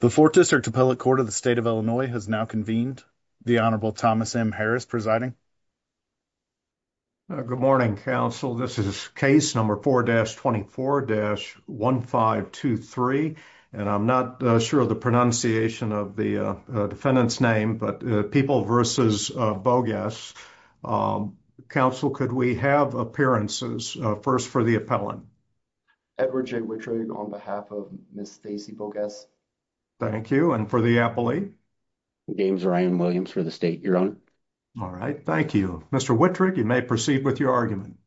The 4th District Appellate Court of the State of Illinois has now convened. The Honorable Thomas M. Harris presiding. Good morning, counsel. This is case number 4-24-1523. And I'm not sure of the pronunciation of the defendant's name, but People v. Bogguess. Counsel, could we have appearances first for the appellant? Edward J. Wittrig on behalf of Ms. Stacey Bogguess. Thank you. And for the appellee? James Ryan Williams for the State. Your Honor. All right. Thank you. Mr. Wittrig, you may proceed with your argument.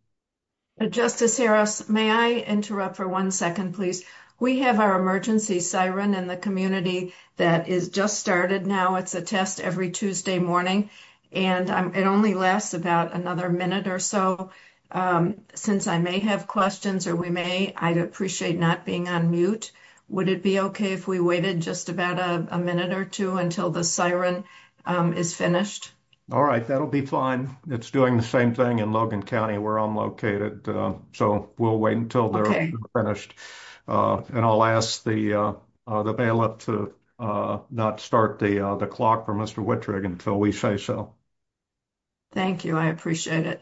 Justice Harris, may I interrupt for one second, please? We have our emergency siren in the community that is just started now. It's a test every Tuesday morning. And it only lasts about another minute or so. Since I may have questions, or we may, I'd appreciate not being on mute. Would it be okay if we waited just about a minute or two until the siren is finished? All right, that'll be fine. It's doing the same thing in Logan County where I'm located. So, we'll wait until they're finished. And I'll ask the bailiff to not start the clock for Mr. Wittrig until we say so. Thank you. I appreciate it. Thank you. Thank you. Thank you. Thank you. Thank you. Thank you. Thank you. Thank you. Thank you. Thank you. Thank you. Thank you.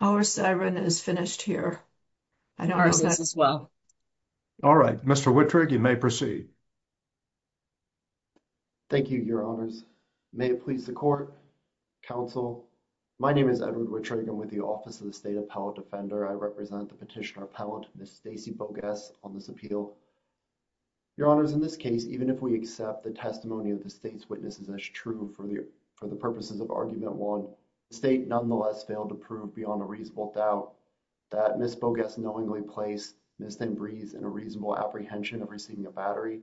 Our siren is finished here. All right, Mr. Wittrig, you may proceed. Thank you, your honors. May it please the court, counsel. My name is Edward Wittrig and with the office of the State Appellate Defender, I represent the Petitioner Appellant, Ms. Stacey Bogues on this appeal. Your honors, in this case, even if we accept the testimony of the state's witnesses as true for the purposes of argument one, the state nonetheless failed to prove beyond a reasonable doubt that Ms. Bogues knowingly placed Ms. Ambriz in a reasonable apprehension of receiving a battery.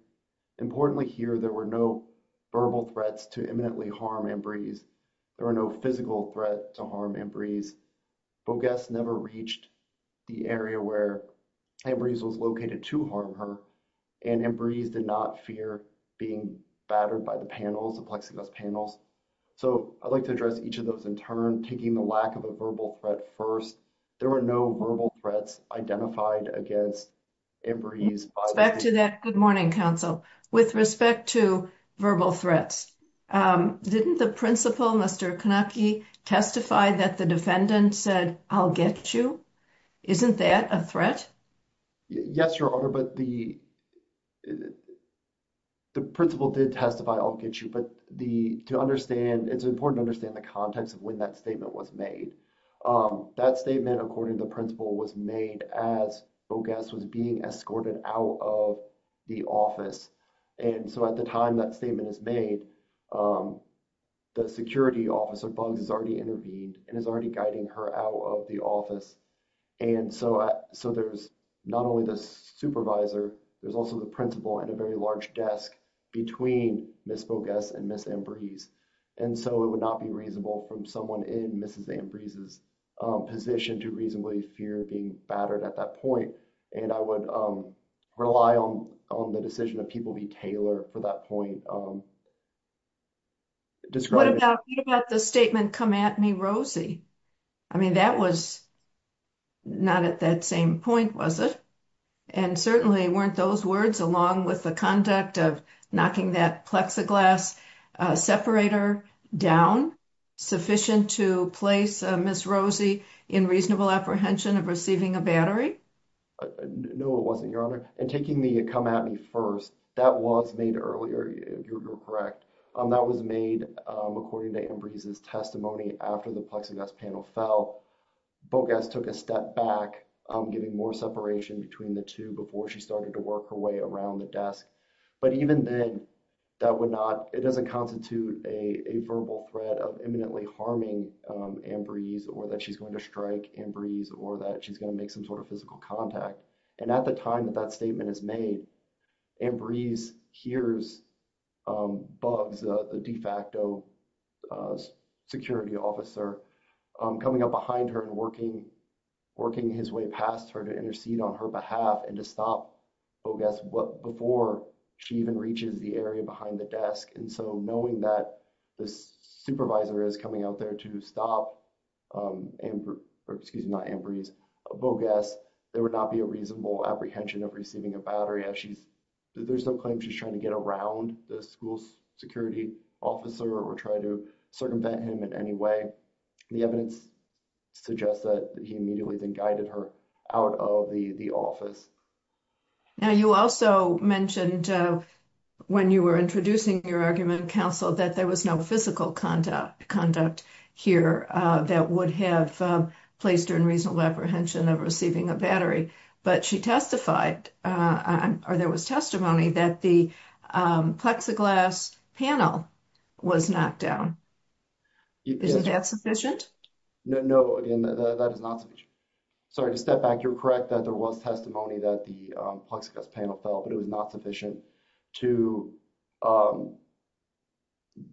Importantly here, there were no verbal threats to imminently harm Ambriz. There were no physical threat to harm Ambriz. Bogues never reached the area where Ambriz was located to harm her, and Ambriz did not fear being battered by the panels, the plexiglass panels. So I'd like to address each of those in turn, taking the lack of a verbal threat first. There were no verbal threats identified against Ambriz. With respect to that, good morning, counsel. The defendant said, I'll get you? Isn't that a threat? Yes, Your Honor, but the principal did testify, I'll get you. But to understand, it's important to understand the context of when that statement was made. That statement, according to the principal, was made as Bogues was being escorted out of the office. And so at the time that statement is made, the security officer, Bogues, has already intervened and is already guiding her out of the office. And so there's not only the supervisor, there's also the principal and a very large desk between Ms. Bogues and Ms. Ambriz. And so it would not be reasonable from someone in Ms. Ambriz's position to reasonably fear being battered at that point. And I would rely on the decision of people to be tailored for that point. What about the statement, come at me, Rosie? I mean, that was not at that same point, was it? And certainly weren't those words, along with the conduct of knocking that Plexiglas separator down, sufficient to place Ms. Rosie in reasonable apprehension of receiving a battery? No, it wasn't, Your Honor. And taking the come at me first, that was made earlier, you're correct. That was made according to Ambriz's testimony after the Plexiglas panel fell. Bogues took a step back, giving more separation between the two before she started to work her way around the desk. But even then, it doesn't constitute a verbal threat of imminently harming Ambriz or that she's going to strike Ambriz or that she's going to make some sort of physical contact. And at the time that that statement is made, Ambriz hears Bogues, the de facto security officer, coming up behind her and working his way past her to intercede on her behalf and to stop Bogues before she even reaches the area behind the desk. And so knowing that this supervisor is coming out there to stop Ambriz, or excuse me, not Ambriz, Bogues, there would not be a reasonable apprehension of receiving a battery. There's no claim she's trying to get around the school's security officer or try to circumvent him in any way. The evidence suggests that he immediately then guided her out of the office. Now, you also mentioned when you were introducing your argument in council that there was no physical conduct here that would have placed her in reasonable apprehension of receiving a battery. But she testified, or there was testimony, that the Plexiglas panel was knocked down. Is that sufficient? No, that is not sufficient. Sorry, to step back, you're correct that there was testimony that the Plexiglas panel fell, but it was not sufficient to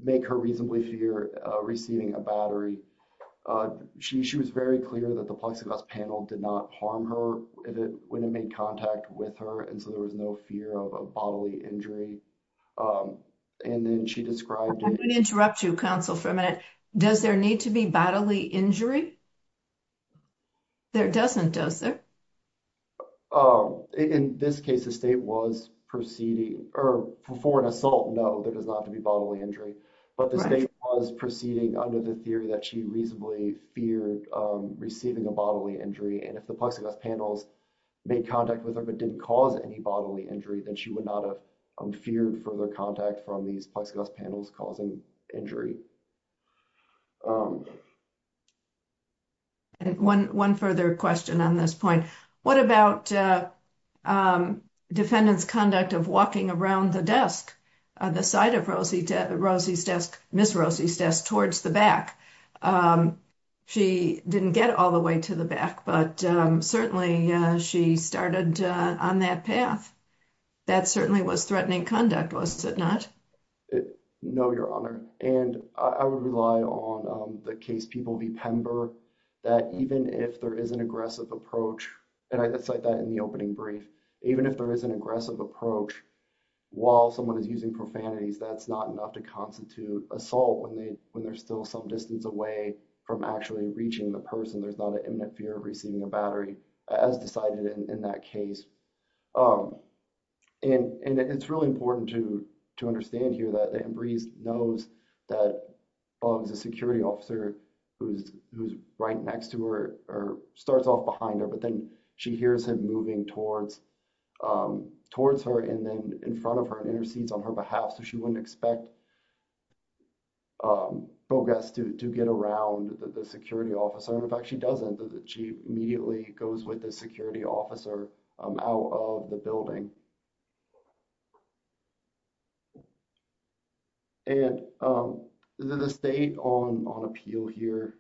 make her reasonably fear receiving a battery. She was very clear that the Plexiglas panel did not harm her when it made contact with her, and so there was no fear of a bodily injury. I'm going to interrupt you, counsel, for a minute. Does there need to be bodily injury? There doesn't, does there? In this case, the state was proceeding, or for an assault, no, there does not have to be bodily injury. But the state was proceeding under the theory that she reasonably feared receiving a bodily injury. And if the Plexiglas panels made contact with her but didn't cause any bodily injury, then she would not have feared further contact from these Plexiglas panels causing injury. One further question on this point. What about defendant's conduct of walking around the desk, the side of Rosie's desk, Ms. Rosie's desk, towards the back? She didn't get all the way to the back, but certainly she started on that path. That certainly was threatening conduct, was it not? No, Your Honor. And I would rely on the case People v. Pember that even if there is an aggressive approach, and I cite that in the opening brief, even if there is an aggressive approach, while someone is using profanities, that's not enough to constitute assault when they're still some distance away from actually reaching the person. There's not an imminent fear of receiving a battery, as decided in that case. And it's really important to understand here that Embree knows that Buggs, the security officer who's right next to her, starts off behind her, but then she hears him moving towards her and then in front of her and intercedes on her behalf so she wouldn't expect Buggess to get around the security officer. In fact, she doesn't. She immediately goes with the security officer out of the building. And the state on appeal here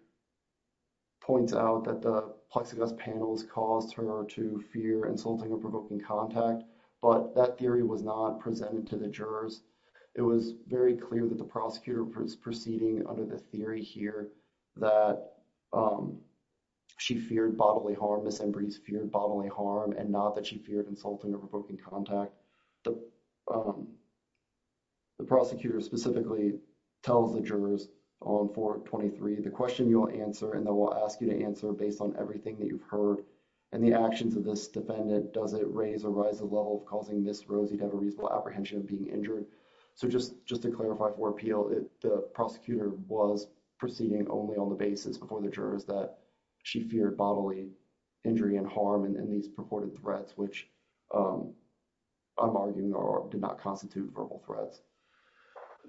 points out that the Plexiglas panels caused her to fear insulting or provoking contact, but that theory was not presented to the jurors. It was very clear that the prosecutor was proceeding under the theory here that she feared bodily harm, Ms. Embree feared bodily harm, and not that she feared insulting or provoking contact. The prosecutor specifically tells the jurors on 423, the question you will answer and they will ask you to answer based on everything that you've heard and the actions of this defendant. Does it raise or rise the level of causing Ms. Rosie to have a reasonable apprehension of being injured? So just to clarify for appeal, the prosecutor was proceeding only on the basis before the jurors that she feared bodily injury and harm and these purported threats, which I'm arguing did not constitute verbal threats.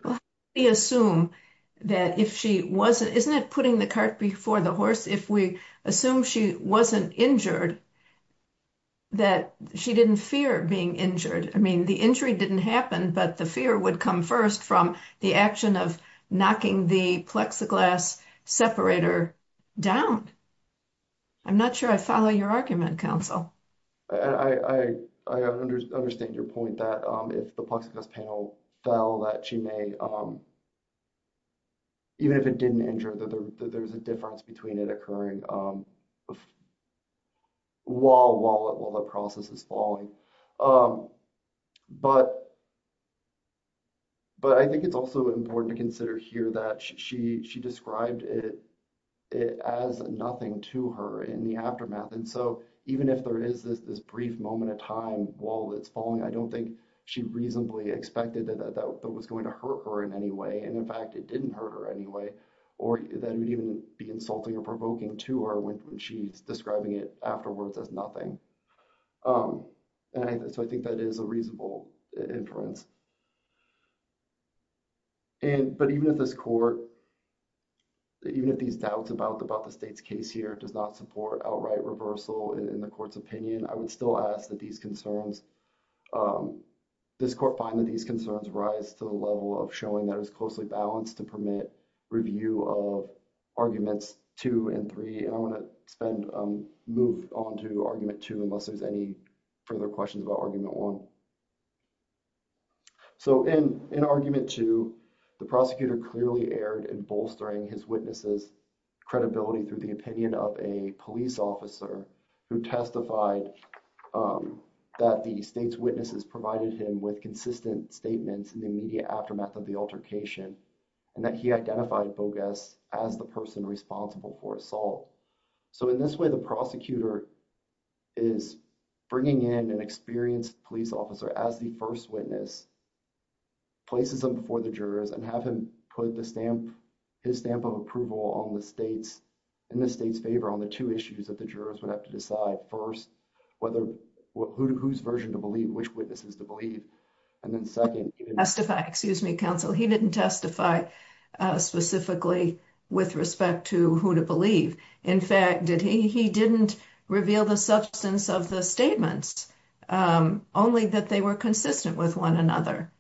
Let's assume that if she wasn't, isn't it putting the cart before the horse? If we assume she wasn't injured, that she didn't fear being injured. I mean, the injury didn't happen, but the fear would come first from the action of knocking the Plexiglas separator down. I'm not sure I follow your argument, counsel. I understand your point that if the Plexiglas panel fell, that she may, even if it didn't injure, that there's a difference between it occurring while the process is falling. But I think it's also important to consider here that she described it as nothing to her in the aftermath. And so even if there is this brief moment of time while it's falling, I don't think she reasonably expected that that was going to hurt her in any way. And in fact, it didn't hurt her anyway, or that would even be insulting or provoking to her when she's describing it afterwards as nothing. And so I think that is a reasonable inference. But even if this court, even if these doubts about the state's case here does not support outright reversal in the court's opinion, I would still ask that these concerns, this court find that these concerns rise to the level of showing that it was closely balanced to permit review of arguments two and three. And I want to move on to argument two unless there's any further questions about argument one. So in argument two, the prosecutor clearly erred in bolstering his witness's credibility through the opinion of a police officer who testified that the state's witnesses provided him with consistent statements in the immediate aftermath of the altercation and that he identified Bogues as the person responsible for assault. So in this way, the prosecutor is bringing in an experienced police officer as the first witness, places him before the jurors, and have him put his stamp of approval in the state's favor on the two issues that the jurors would have to decide. First, whose version to believe, which witnesses to believe. And then second, he didn't testify. Excuse me, counsel. He didn't testify specifically with respect to who to believe. In fact, he didn't reveal the substance of the statements, only that they were consistent with one another.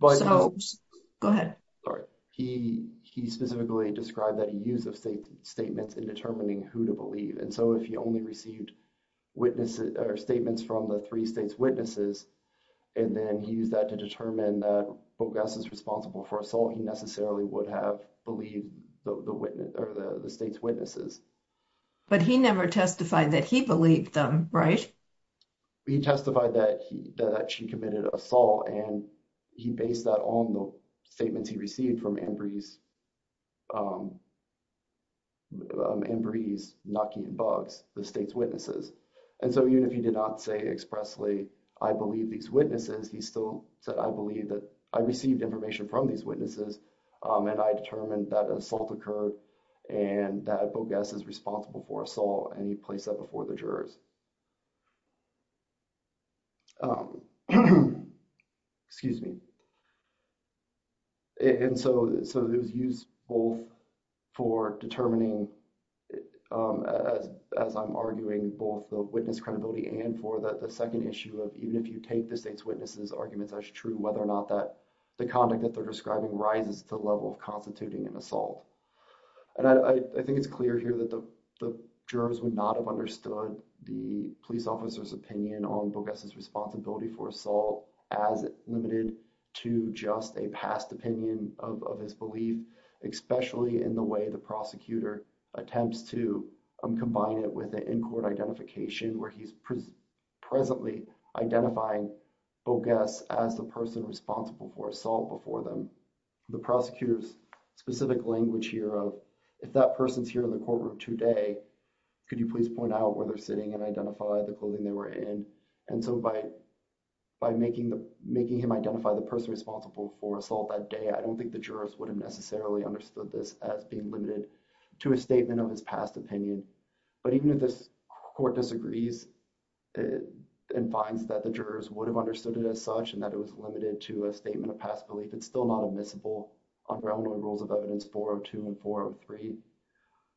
Go ahead. Sorry. He specifically described that he used the statements in determining who to believe. And so if he only received statements from the three states' witnesses, and then he used that to determine that Bogues is responsible for assault, he necessarily would have believed the state's witnesses. But he never testified that he believed them, right? He testified that she committed assault, and he based that on the statements he received from Ambry's, Ambry's, Naki, and Bogues, the state's witnesses. And so even if he did not say expressly, I believe these witnesses, he still said, I believe that I received information from these witnesses, and I determined that an assault occurred and that Bogues is responsible for assault, and he placed that before the jurors. Excuse me. And so it was used both for determining, as I'm arguing, both the witness credibility and for the second issue of even if you take the state's witnesses' arguments as true, whether or not that the conduct that they're describing rises to the level of constituting an assault. And I think it's clear here that the jurors would not have understood the police officer's opinion on Bogues' responsibility for assault as limited to just a past opinion of his belief, especially in the way the prosecutor attempts to combine it with an in-court identification where he's presently identifying Bogues as the person responsible for assault before them. The prosecutor's specific language here of, if that person's here in the courtroom today, could you please point out where they're sitting and identify the clothing they were in? And so by making him identify the person responsible for assault that day, I don't think the jurors would have necessarily understood this as being limited to a statement of his past opinion. But even if this court disagrees and finds that the jurors would have understood it as such and that it was limited to a statement of past belief, it's still not admissible under Eleanor Rules of Evidence 402 and 403.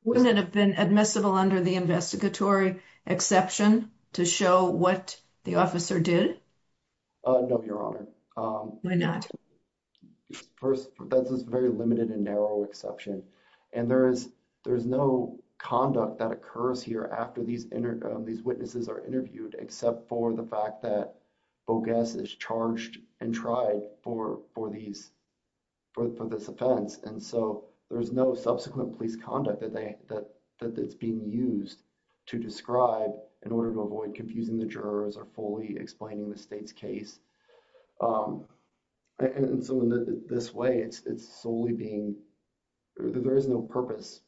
Wouldn't it have been admissible under the investigatory exception to show what the officer did? No, Your Honor. Why not? First, that's a very limited and narrow exception. And there is no conduct that occurs here after these witnesses are interviewed except for the fact that Bogues is charged and tried for this offense. And so there's no subsequent police conduct that's being used to describe in order to avoid confusing the jurors or fully explaining the state's case. And so in this way, it's solely being – there is no purpose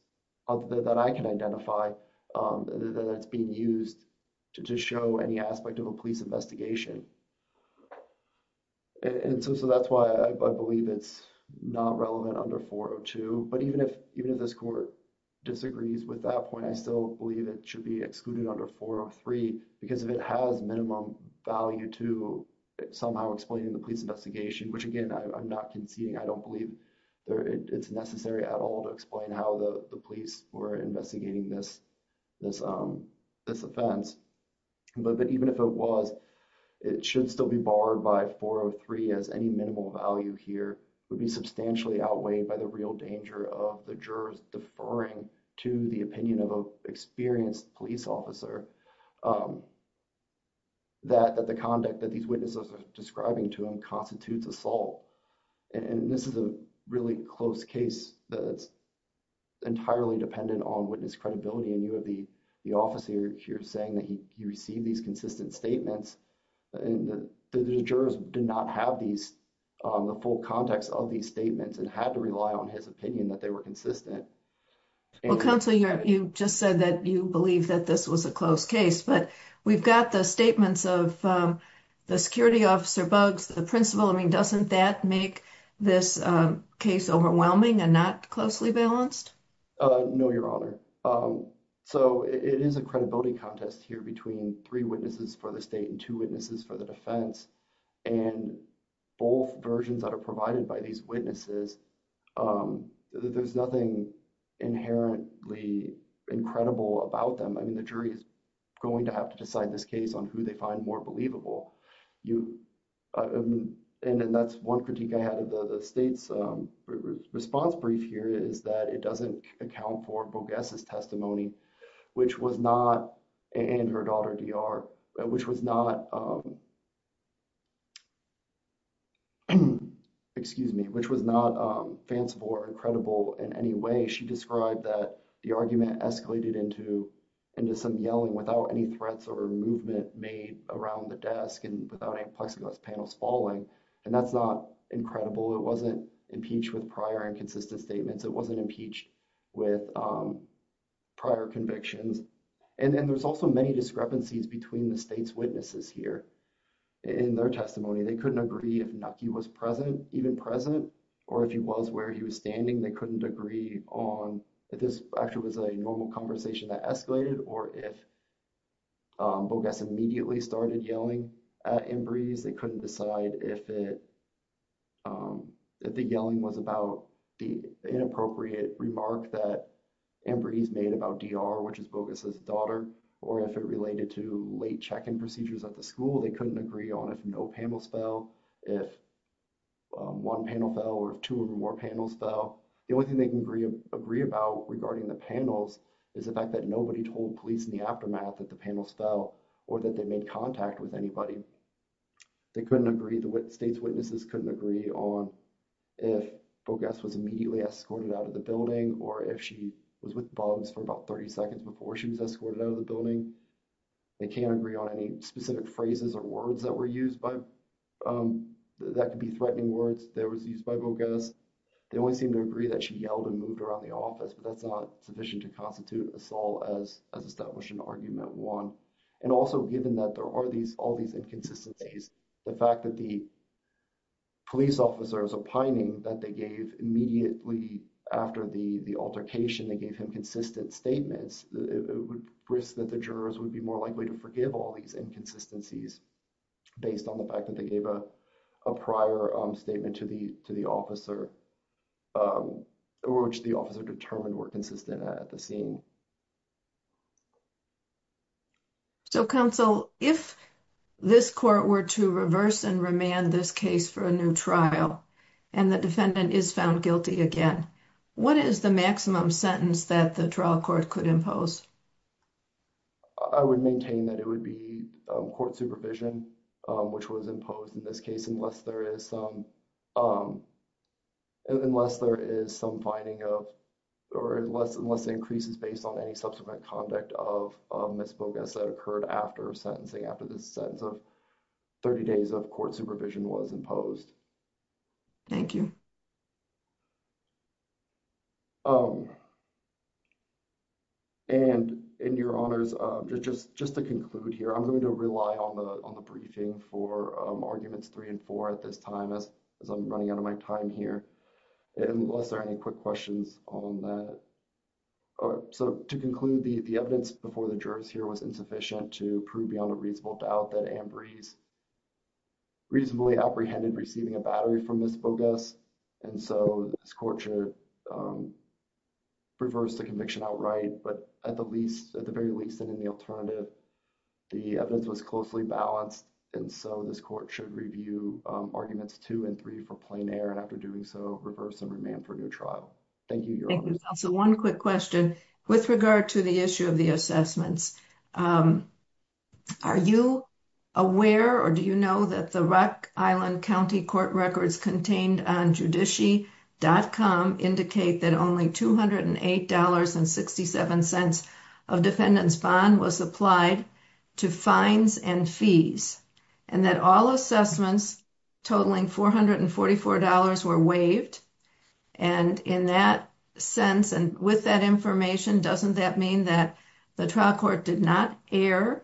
that I can identify that it's being used to show any aspect of a police investigation. And so that's why I believe it's not relevant under 402. But even if this court disagrees with that point, I still believe it should be excluded under 403 because it has minimum value to somehow explain the police investigation, which, again, I'm not conceding. I don't believe it's necessary at all to explain how the police were investigating this offense. But even if it was, it should still be barred by 403 as any minimal value here would be substantially outweighed by the real danger of the jurors deferring to the opinion of an experienced police officer that the conduct that these witnesses are describing to them constitutes assault. And this is a really close case that's entirely dependent on witness credibility. And you have the officer here saying that he received these consistent statements. And the jurors did not have the full context of these statements and had to rely on his opinion that they were consistent. Well, Councilor, you just said that you believe that this was a close case, but we've got the statements of the security officer Buggs, the principal. I mean, doesn't that make this case overwhelming and not closely balanced? No, Your Honor. So it is a credibility contest here between three witnesses for the state and two witnesses for the defense. And both versions that are provided by these witnesses, there's nothing inherently incredible about them. I mean, the jury is going to have to decide this case on who they find more believable. And that's one critique I had of the state's response brief here is that it doesn't account for Buggess' testimony, which was not – and her daughter, DR – which was not – excuse me – which was not fanciful or incredible in any way. She described that the argument escalated into some yelling without any threats or movement made around the desk and without any plexiglass panels falling. And that's not incredible. It wasn't impeached with prior and consistent statements. It wasn't impeached with prior convictions. And there's also many discrepancies between the state's witnesses here in their testimony. They couldn't agree if Nucky was present, even present, or if he was where he was standing. They couldn't agree on if this actually was a normal conversation that escalated or if Buggess immediately started yelling at Embree's. They couldn't decide if it – if the yelling was about the inappropriate remark that Embree's made about DR, which is Buggess' daughter, or if it related to late check-in procedures at the school. They couldn't agree on if no panels fell, if one panel fell, or if two or more panels fell. The only thing they can agree about regarding the panels is the fact that nobody told police in the aftermath that the panels fell or that they made contact with anybody. They couldn't agree – the state's witnesses couldn't agree on if Buggess was immediately escorted out of the building or if she was with Buggs for about 30 seconds before she was escorted out of the building. They can't agree on any specific phrases or words that were used by – that could be threatening words that was used by Buggess. They only seem to agree that she yelled and moved around the office, but that's not sufficient to constitute assault as established in Argument 1. And also given that there are these – all these inconsistencies, the fact that the police officer is opining that they gave immediately after the altercation, they gave him consistent statements, it would risk that the jurors would be more likely to forgive all these inconsistencies based on the fact that they gave a prior statement to the officer. Or which the officer determined were consistent at the scene. So, counsel, if this court were to reverse and remand this case for a new trial and the defendant is found guilty again, what is the maximum sentence that the trial court could impose? I would maintain that it would be court supervision, which was imposed in this case, unless there is some – unless there is some finding of – or unless it increases based on any subsequent conduct of Ms. Buggess that occurred after sentencing, after the sentence of 30 days of court supervision was imposed. Thank you. And in your honors, just to conclude here, I'm going to rely on the briefing for Arguments 3 and 4 at this time, as I'm running out of my time here, unless there are any quick questions on that. So, to conclude, the evidence before the jurors here was insufficient to prove beyond a reasonable doubt that Anne Breeze reasonably apprehended receiving a battery from Ms. Buggess, and so this court should reverse the conviction outright. But at the least – at the very least, in the alternative, the evidence was closely balanced, and so this court should review Arguments 2 and 3 for plain error, and after doing so, reverse and remand for a new trial. Thank you, your honors. Thank you, counsel. One quick question with regard to the issue of the assessments. Are you aware or do you know that the Rock Island County Court records contained on judici.com indicate that only $208.67 of defendant's bond was applied to fines and fees, and that all assessments totaling $444 were waived? And in that sense, and with that information, doesn't that mean that the trial court did not err?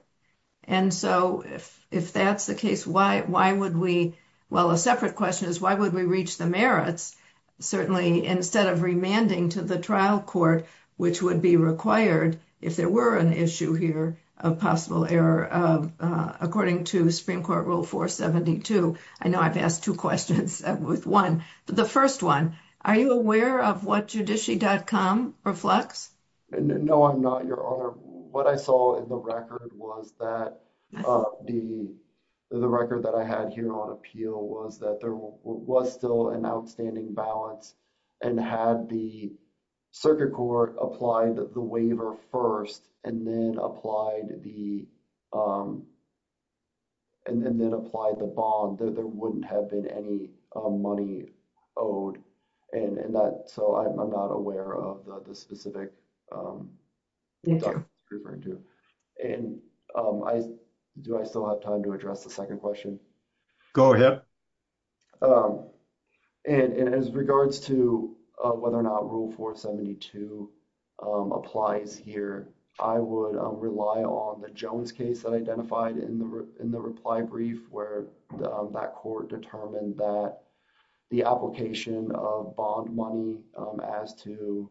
And so, if that's the case, why would we – well, a separate question is why would we reach the merits, certainly, instead of remanding to the trial court, which would be required if there were an issue here of possible error, according to Supreme Court Rule 472? I know I've asked two questions with one, but the first one, are you aware of what judici.com reflects? No, I'm not, your honor. What I saw in the record was that the record that I had here on appeal was that there was still an outstanding balance, and had the circuit court applied the waiver first and then applied the bond, there wouldn't have been any money owed. And that – so I'm not aware of the specific – Yes, your honor. And do I still have time to address the second question? Go ahead. And as regards to whether or not Rule 472 applies here, I would rely on the Jones case that I identified in the reply brief, where that court determined that the application of bond money as to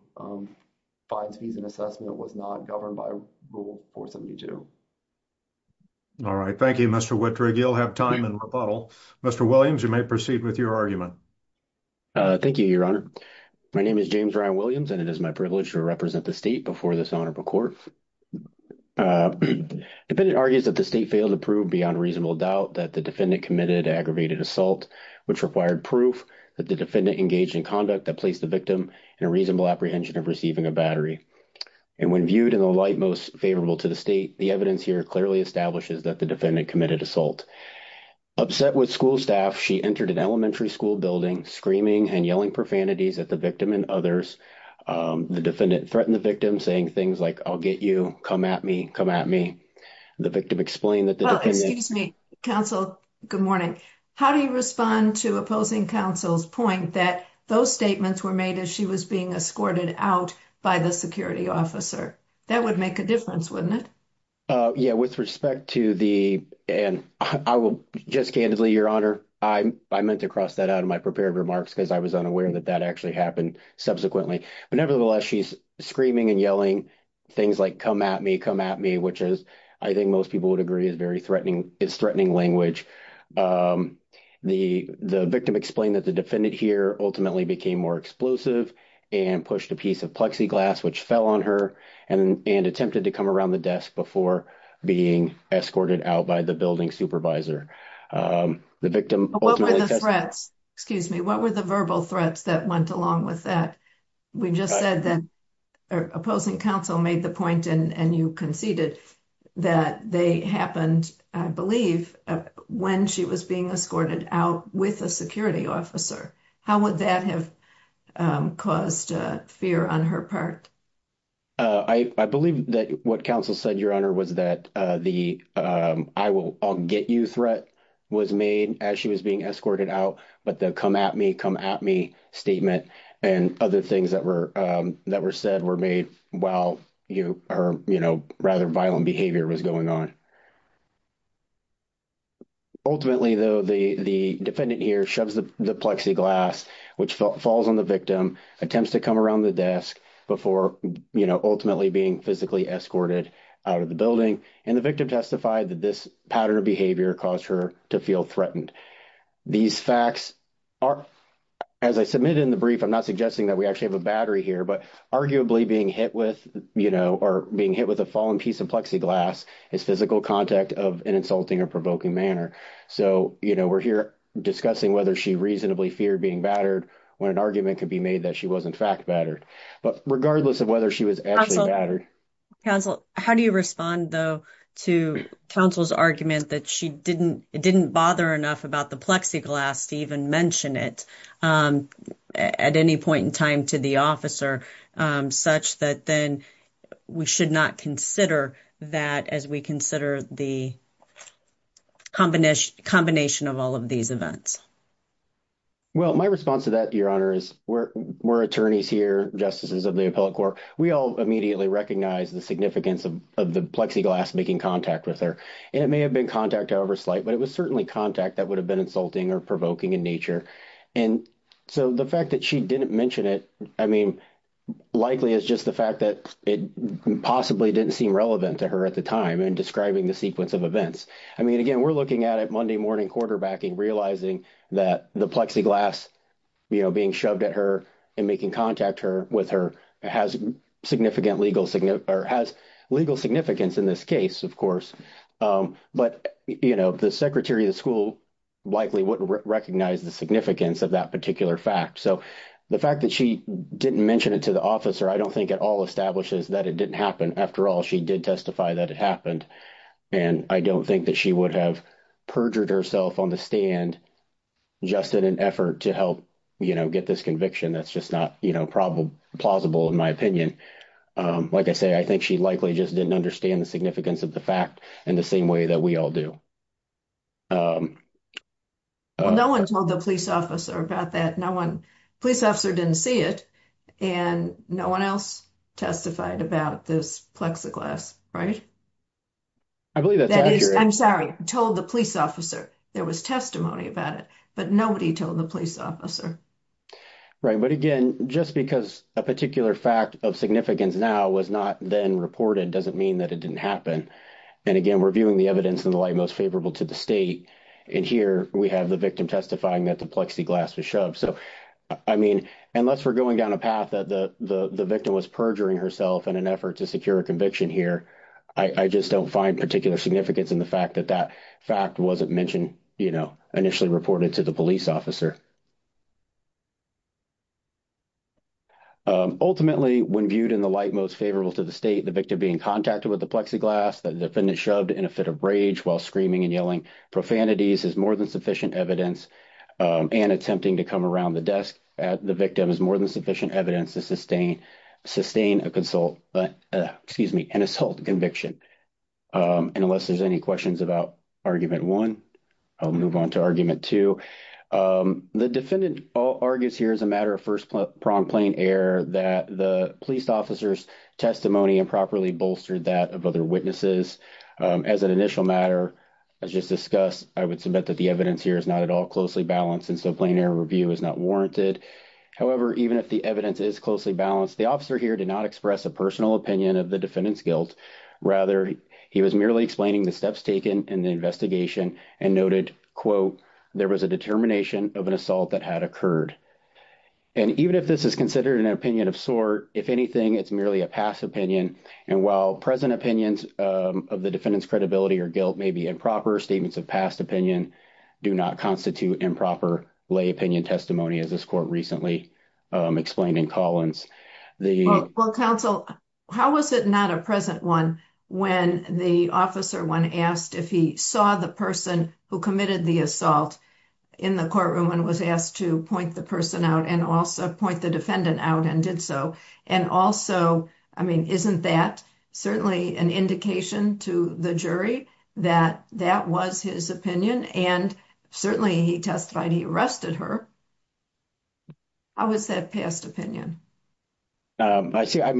fines, fees, and assessment was not governed by Rule 472. All right, thank you, Mr. Wittrig. You'll have time in rebuttal. Mr. Williams, you may proceed with your argument. Thank you, your honor. My name is James Ryan Williams, and it is my privilege to represent the state before this honorable court. The defendant argues that the state failed to prove beyond reasonable doubt that the defendant committed an aggravated assault, which required proof that the defendant engaged in conduct that placed the victim in a reasonable apprehension of receiving a battery. And when viewed in the light most favorable to the state, the evidence here clearly establishes that the defendant committed assault. Upset with school staff, she entered an elementary school building, screaming and yelling profanities at the victim and others. The defendant threatened the victim, saying things like, I'll get you, come at me, come at me. The victim explained that the defendant – Well, excuse me, counsel, good morning. How do you respond to opposing counsel's point that those statements were made as she was being escorted out by the security officer? That would make a difference, wouldn't it? Yeah, with respect to the – and I will just candidly, your honor, I meant to cross that out of my prepared remarks because I was unaware that that actually happened subsequently. But nevertheless, she's screaming and yelling things like, come at me, come at me, which is, I think most people would agree, is very threatening. It's threatening language. The victim explained that the defendant here ultimately became more explosive and pushed a piece of plexiglass, which fell on her, and attempted to come around the desk before being escorted out by the building supervisor. The victim – What were the threats? Excuse me. What were the verbal threats that went along with that? We just said that opposing counsel made the point, and you conceded, that they happened, I believe, when she was being escorted out with a security officer. How would that have caused fear on her part? I believe that what counsel said, your honor, was that the I'll get you threat was made as she was being escorted out, but the come at me, come at me statement and other things that were said were made while her rather violent behavior was going on. Ultimately, though, the defendant here shoves the plexiglass, which falls on the victim, attempts to come around the desk before ultimately being physically escorted out of the building. And the victim testified that this pattern of behavior caused her to feel threatened. These facts are, as I submitted in the brief, I'm not suggesting that we actually have a battery here, but arguably being hit with, you know, or being hit with a fallen piece of plexiglass is physical contact of an insulting or provoking manner. So, you know, we're here discussing whether she reasonably feared being battered when an argument could be made that she was in fact battered. But regardless of whether she was actually battered. How do you respond, though, to counsel's argument that she didn't didn't bother enough about the plexiglass to even mention it at any point in time to the officer such that then we should not consider that as we consider the combination combination of all of these events? Well, my response to that, your honor, is we're attorneys here, justices of the appellate court. We all immediately recognize the significance of the plexiglass making contact with her, and it may have been contact over slight, but it was certainly contact that would have been insulting or provoking in nature. And so the fact that she didn't mention it, I mean, likely is just the fact that it possibly didn't seem relevant to her at the time and describing the sequence of events. I mean, again, we're looking at it Monday morning quarterbacking, realizing that the plexiglass being shoved at her and making contact her with her has significant legal or has legal significance in this case, of course. But the secretary of the school likely wouldn't recognize the significance of that particular fact. So the fact that she didn't mention it to the officer, I don't think at all establishes that it didn't happen. After all, she did testify that it happened, and I don't think that she would have perjured herself on the stand just in an effort to help get this conviction. That's just not plausible in my opinion. Like I say, I think she likely just didn't understand the significance of the fact in the same way that we all do. No one told the police officer about that. No one police officer didn't see it. And no one else testified about this plexiglass. Right. I believe that I'm sorry, told the police officer there was testimony about it, but nobody told the police officer. Right. But again, just because a particular fact of significance now was not then reported doesn't mean that it didn't happen. And again, we're viewing the evidence in the light most favorable to the state. And here we have the victim testifying that the plexiglass was shoved. So, I mean, unless we're going down a path that the victim was perjuring herself in an effort to secure a conviction here. I just don't find particular significance in the fact that that fact wasn't mentioned, you know, initially reported to the police officer. Ultimately, when viewed in the light most favorable to the state, the victim being contacted with the plexiglass that the defendant shoved in a fit of rage while screaming and yelling profanities is more than sufficient evidence. And attempting to come around the desk at the victim is more than sufficient evidence to sustain a consult, excuse me, an assault conviction. And unless there's any questions about Argument 1, I'll move on to Argument 2. The defendant argues here as a matter of first-pronged plain error that the police officer's testimony improperly bolstered that of other witnesses. As an initial matter, as just discussed, I would submit that the evidence here is not at all closely balanced, and so plain error review is not warranted. However, even if the evidence is closely balanced, the officer here did not express a personal opinion of the defendant's guilt. Rather, he was merely explaining the steps taken in the investigation and noted, quote, there was a determination of an assault that had occurred. And even if this is considered an opinion of sort, if anything, it's merely a past opinion. And while present opinions of the defendant's credibility or guilt may be improper, statements of past opinion do not constitute improper lay opinion testimony, as this court recently explained in Collins. Well, counsel, how was it not a present one when the officer, when asked if he saw the person who committed the assault in the courtroom and was asked to point the person out and also point the defendant out and did so? And also, I mean, isn't that certainly an indication to the jury that that was his opinion? And certainly he testified he arrested her. I would say a past opinion. I mean,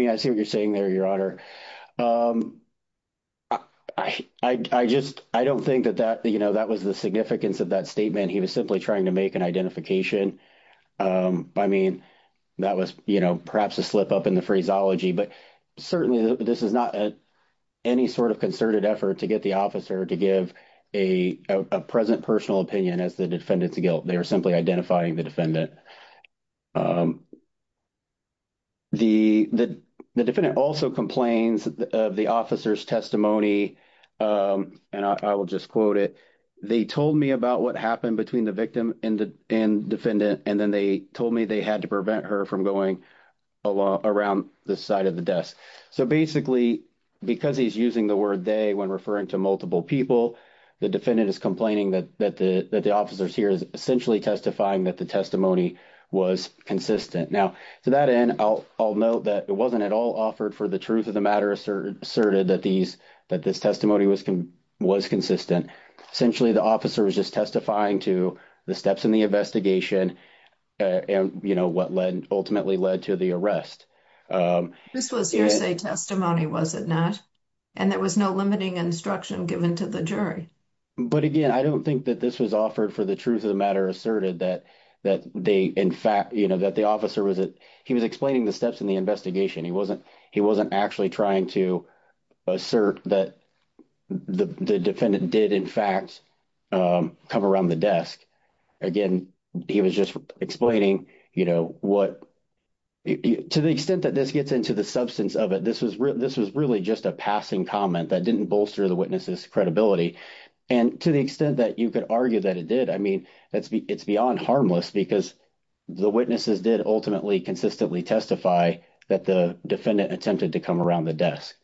I see what you're saying there, Your Honor. I just, I don't think that that, you know, that was the significance of that statement. He was simply trying to make an identification. I mean, that was, you know, perhaps a slip up in the phraseology, but certainly this is not any sort of concerted effort to get the officer to give a present personal opinion as the defendant's guilt. They were simply identifying the defendant. The defendant also complains of the officer's testimony, and I will just quote it. They told me about what happened between the victim and defendant, and then they told me they had to prevent her from going around the side of the desk. So basically, because he's using the word they when referring to multiple people, the defendant is complaining that the officers here is essentially testifying that the testimony was consistent. Now, to that end, I'll note that it wasn't at all offered for the truth of the matter asserted that this testimony was consistent. Essentially, the officer was just testifying to the steps in the investigation and, you know, what ultimately led to the arrest. This was hearsay testimony, was it not? And there was no limiting instruction given to the jury. But again, I don't think that this was offered for the truth of the matter asserted that they in fact, you know, that the officer was he was explaining the steps in the investigation. He wasn't he wasn't actually trying to assert that the defendant did, in fact, come around the desk. Again, he was just explaining, you know, what to the extent that this gets into the substance of it. This was this was really just a passing comment that didn't bolster the witnesses credibility. And to the extent that you could argue that it did, I mean, it's beyond harmless because the witnesses did ultimately consistently testify that the defendant attempted to come around the desk.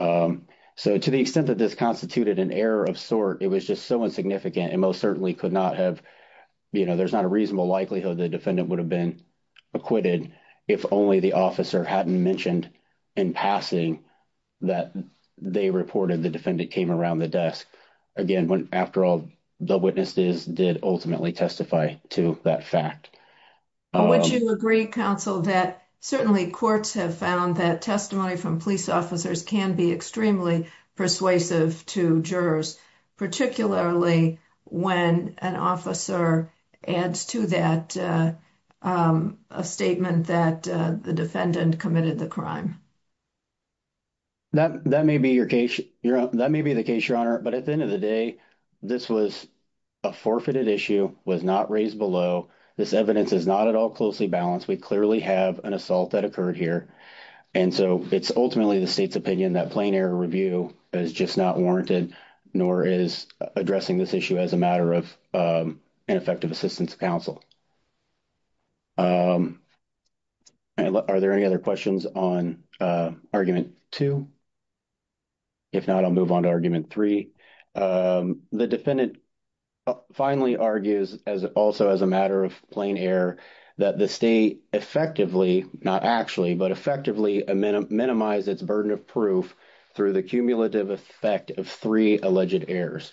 So, to the extent that this constituted an error of sort, it was just so insignificant and most certainly could not have, you know, there's not a reasonable likelihood the defendant would have been acquitted. If only the officer hadn't mentioned in passing that they reported the defendant came around the desk again after all the witnesses did ultimately testify to that fact. Would you agree counsel that certainly courts have found that testimony from police officers can be extremely persuasive to jurors, particularly when an officer adds to that a statement that the defendant committed the crime. That may be your case. That may be the case, your honor, but at the end of the day, this was a forfeited issue was not raised below. This evidence is not at all closely balanced. We clearly have an assault that occurred here. And so it's ultimately the state's opinion that plain error review is just not warranted, nor is addressing this issue as a matter of an effective assistance counsel. Are there any other questions on argument 2? If not, I'll move on to argument 3. The defendant finally argues as also as a matter of plain error that the state effectively, not actually, but effectively minimize its burden of proof through the cumulative effect of 3 alleged errors.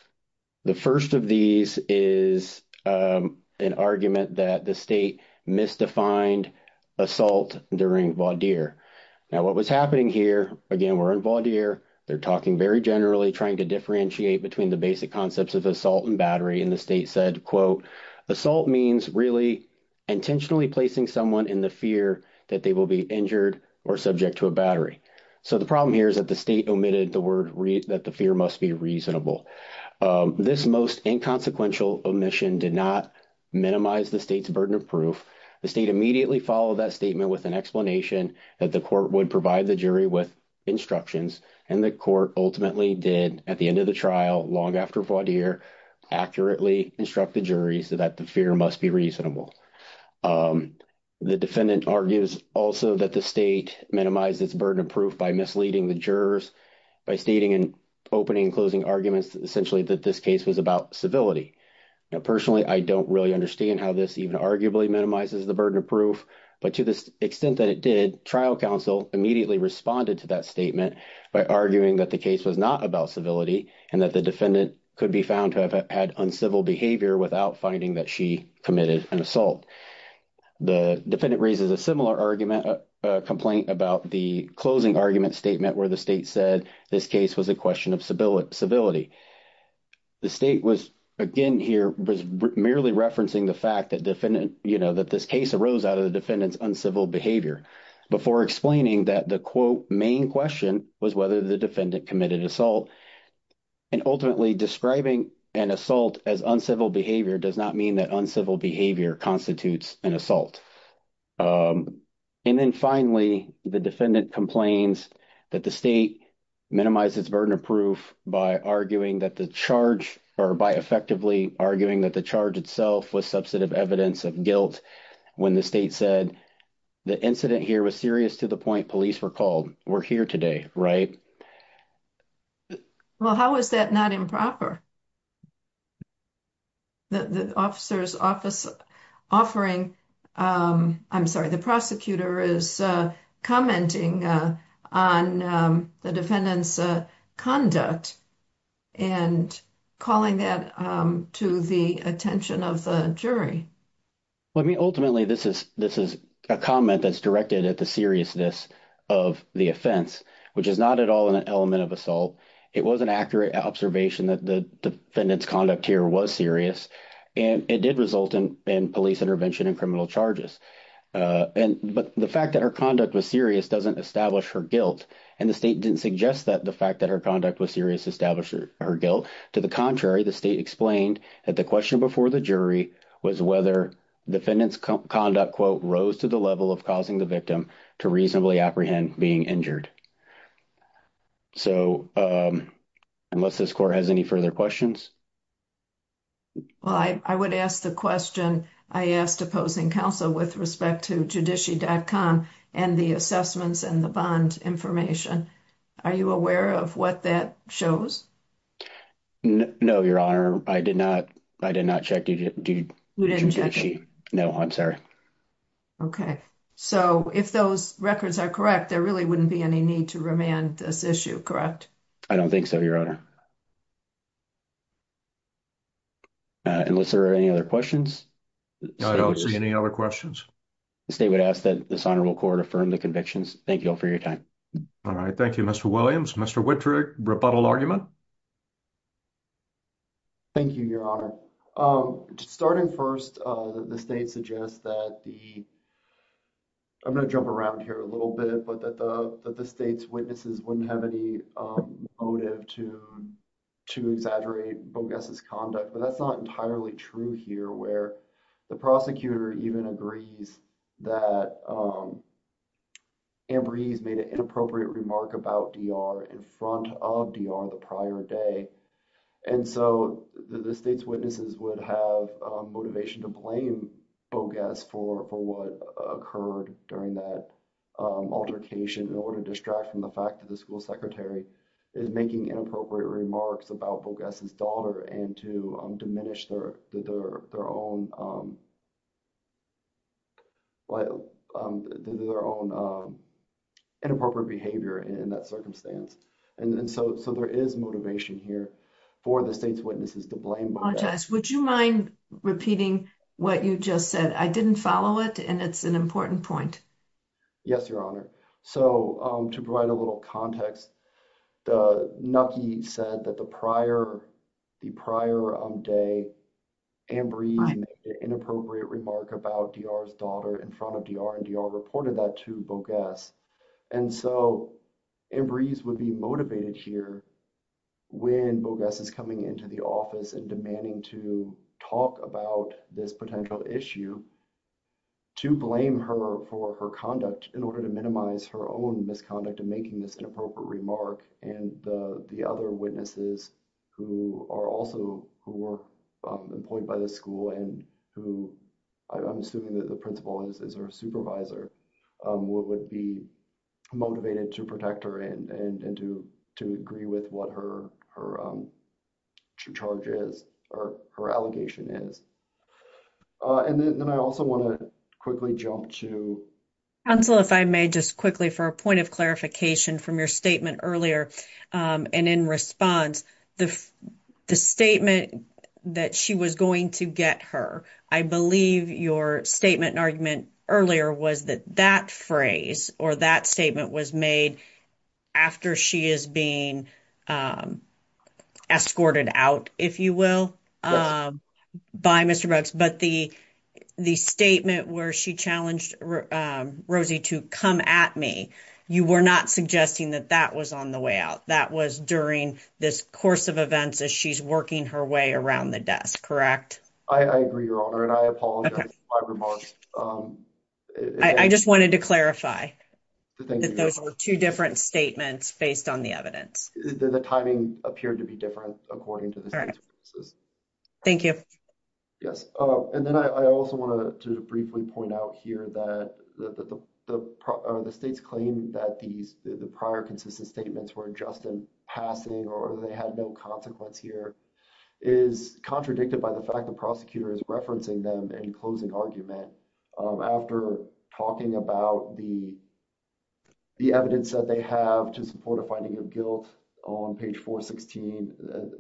The 1st of these is an argument that the state misdefined assault during. Now, what was happening here again, we're involved here. They're talking very generally trying to differentiate between the basic concepts of assault and battery in the state said, quote, assault means really intentionally placing someone in the fear that they will be injured or subject to a battery. So, the problem here is that the state omitted the word that the fear must be reasonable. This most inconsequential omission did not minimize the state's burden of proof. The state immediately follow that statement with an explanation that the court would provide the jury with instructions. And the court ultimately did at the end of the trial, long after Vaudeer accurately instruct the jury so that the fear must be reasonable. The defendant argues also that the state minimizes burden of proof by misleading the jurors by stating and opening and closing arguments essentially that this case was about civility. Now, personally, I don't really understand how this even arguably minimizes the burden of proof, but to the extent that it did trial counsel immediately responded to that statement by arguing that the case was not about civility. And that the defendant could be found to have had uncivil behavior without finding that she committed an assault. The defendant raises a similar argument complaint about the closing argument statement where the state said this case was a question of civility. The state was, again here, merely referencing the fact that defendant, you know, that this case arose out of the defendant's uncivil behavior before explaining that the quote main question was whether the defendant committed assault. And ultimately describing an assault as uncivil behavior does not mean that uncivil behavior constitutes an assault. And then finally, the defendant complains that the state minimizes burden of proof by arguing that the charge or by effectively arguing that the charge itself was substantive evidence of guilt. When the state said the incident here was serious to the point police were called. We're here today, right? Well, how is that not improper? The officer's office offering, I'm sorry, the prosecutor is commenting on the defendant's conduct and calling that to the attention of the jury. Ultimately, this is a comment that's directed at the seriousness of the offense, which is not at all in an element of assault. It was an accurate observation that the defendant's conduct here was serious and it did result in police intervention and criminal charges. But the fact that her conduct was serious doesn't establish her guilt and the state didn't suggest that the fact that her conduct was serious established her guilt. To the contrary, the state explained that the question before the jury was whether the defendant's conduct quote rose to the level of causing the victim to reasonably apprehend being injured. So, unless this court has any further questions. Well, I would ask the question I asked opposing counsel with respect to judici.com and the assessments and the bond information. Are you aware of what that shows? No, your honor. I did not. I did not check. Did you? No, I'm sorry. Okay. So, if those records are correct, there really wouldn't be any need to remand this issue. Correct? I don't think so. Your honor. Unless there are any other questions. I don't see any other questions. The state would ask that this honorable court affirm the convictions. Thank you all for your time. All right. Thank you. Mr. Williams. Mr. Whitrick rebuttal argument. Thank you. Your honor starting 1st, the state suggests that the. I'm going to jump around here a little bit, but that the, that the state's witnesses wouldn't have any motive to. To exaggerate bogus conduct, but that's not entirely true here where the prosecutor even agrees that. Ambrose made an inappropriate remark about in front of the prior day. And so the state's witnesses would have motivation to blame for what occurred during that altercation in order to distract from the fact that the school secretary. Is making inappropriate remarks about bogus daughter and to diminish their, their, their own. Their own inappropriate behavior in that circumstance. And so, so there is motivation here for the state's witnesses to blame. Would you mind repeating what you just said? I didn't follow it and it's an important point. Yes, your honor. So, to provide a little context, the Nucky said that the prior. The prior day inappropriate remark about DR's daughter in front of DR and DR reported that to bogus. And so embreeze would be motivated here. When bogus is coming into the office and demanding to talk about this potential issue. To blame her for her conduct in order to minimize her own misconduct and making this inappropriate remark and the, the other witnesses. Who are also who were employed by the school and who I'm assuming that the principal is, is our supervisor would be motivated to protect her and and and to to agree with what her, her. Charges or her allegation is. And then I also want to quickly jump to. Council, if I may just quickly for a point of clarification from your statement earlier and in response, the, the statement that she was going to get her. I believe your statement and argument earlier was that that phrase, or that statement was made. After she is being escorted out, if you will, by Mr. But the, the statement where she challenged Rosie to come at me, you were not suggesting that that was on the way out. That was during this course of events as she's working her way around the desk. Correct. I agree. Your honor. And I apologize. I just wanted to clarify that those are 2 different statements based on the evidence that the timing appeared to be different according to the. Thank you. Yes. And then I also want to briefly point out here that the, the, the, the states claim that these, the prior consistent statements were just in passing, or they had no consequence here. Is contradicted by the fact that prosecutor is referencing them and closing argument after talking about the. The evidence that they have to support a finding of guilt on page 416,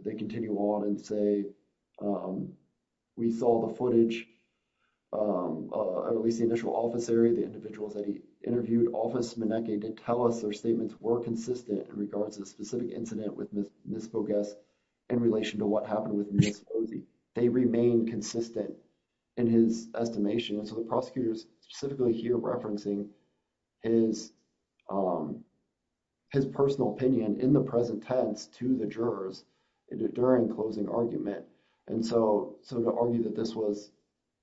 they continue on and say. We saw the footage, or at least the initial office area, the individuals that he interviewed office to tell us their statements were consistent in regards to the specific incident with this focus. In relation to what happened with Rosie, they remain consistent. In his estimation, and so the prosecutors specifically here referencing. Is his personal opinion in the present tense to the jurors. During closing argument, and so, so to argue that this was.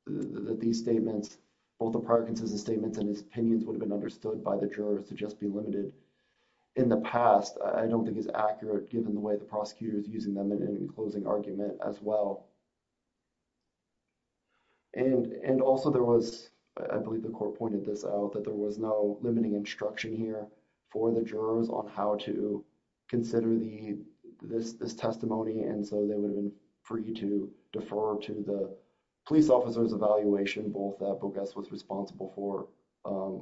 That these statements, both the Parkinson's statements, and his opinions would have been understood by the jurors to just be limited. In the past, I don't think it's accurate given the way the prosecutors using them in any closing argument as well. And and also there was, I believe the court pointed this out that there was no limiting instruction here for the jurors on how to. Consider the, this, this testimony, and so they would have been. For you to defer to the police officers evaluation, both that was responsible for.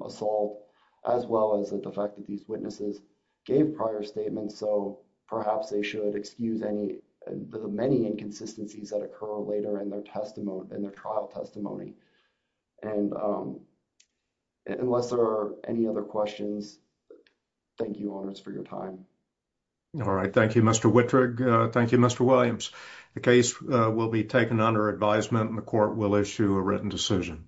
Assault as well as the fact that these witnesses. Gave prior statements, so perhaps they should excuse any, the many inconsistencies that occur later in their testimony and their trial testimony. And unless there are any other questions. Thank you honors for your time. All right. Thank you. Mr. Thank you. Mr. Williams. The case will be taken under advisement and the court will issue a written decision.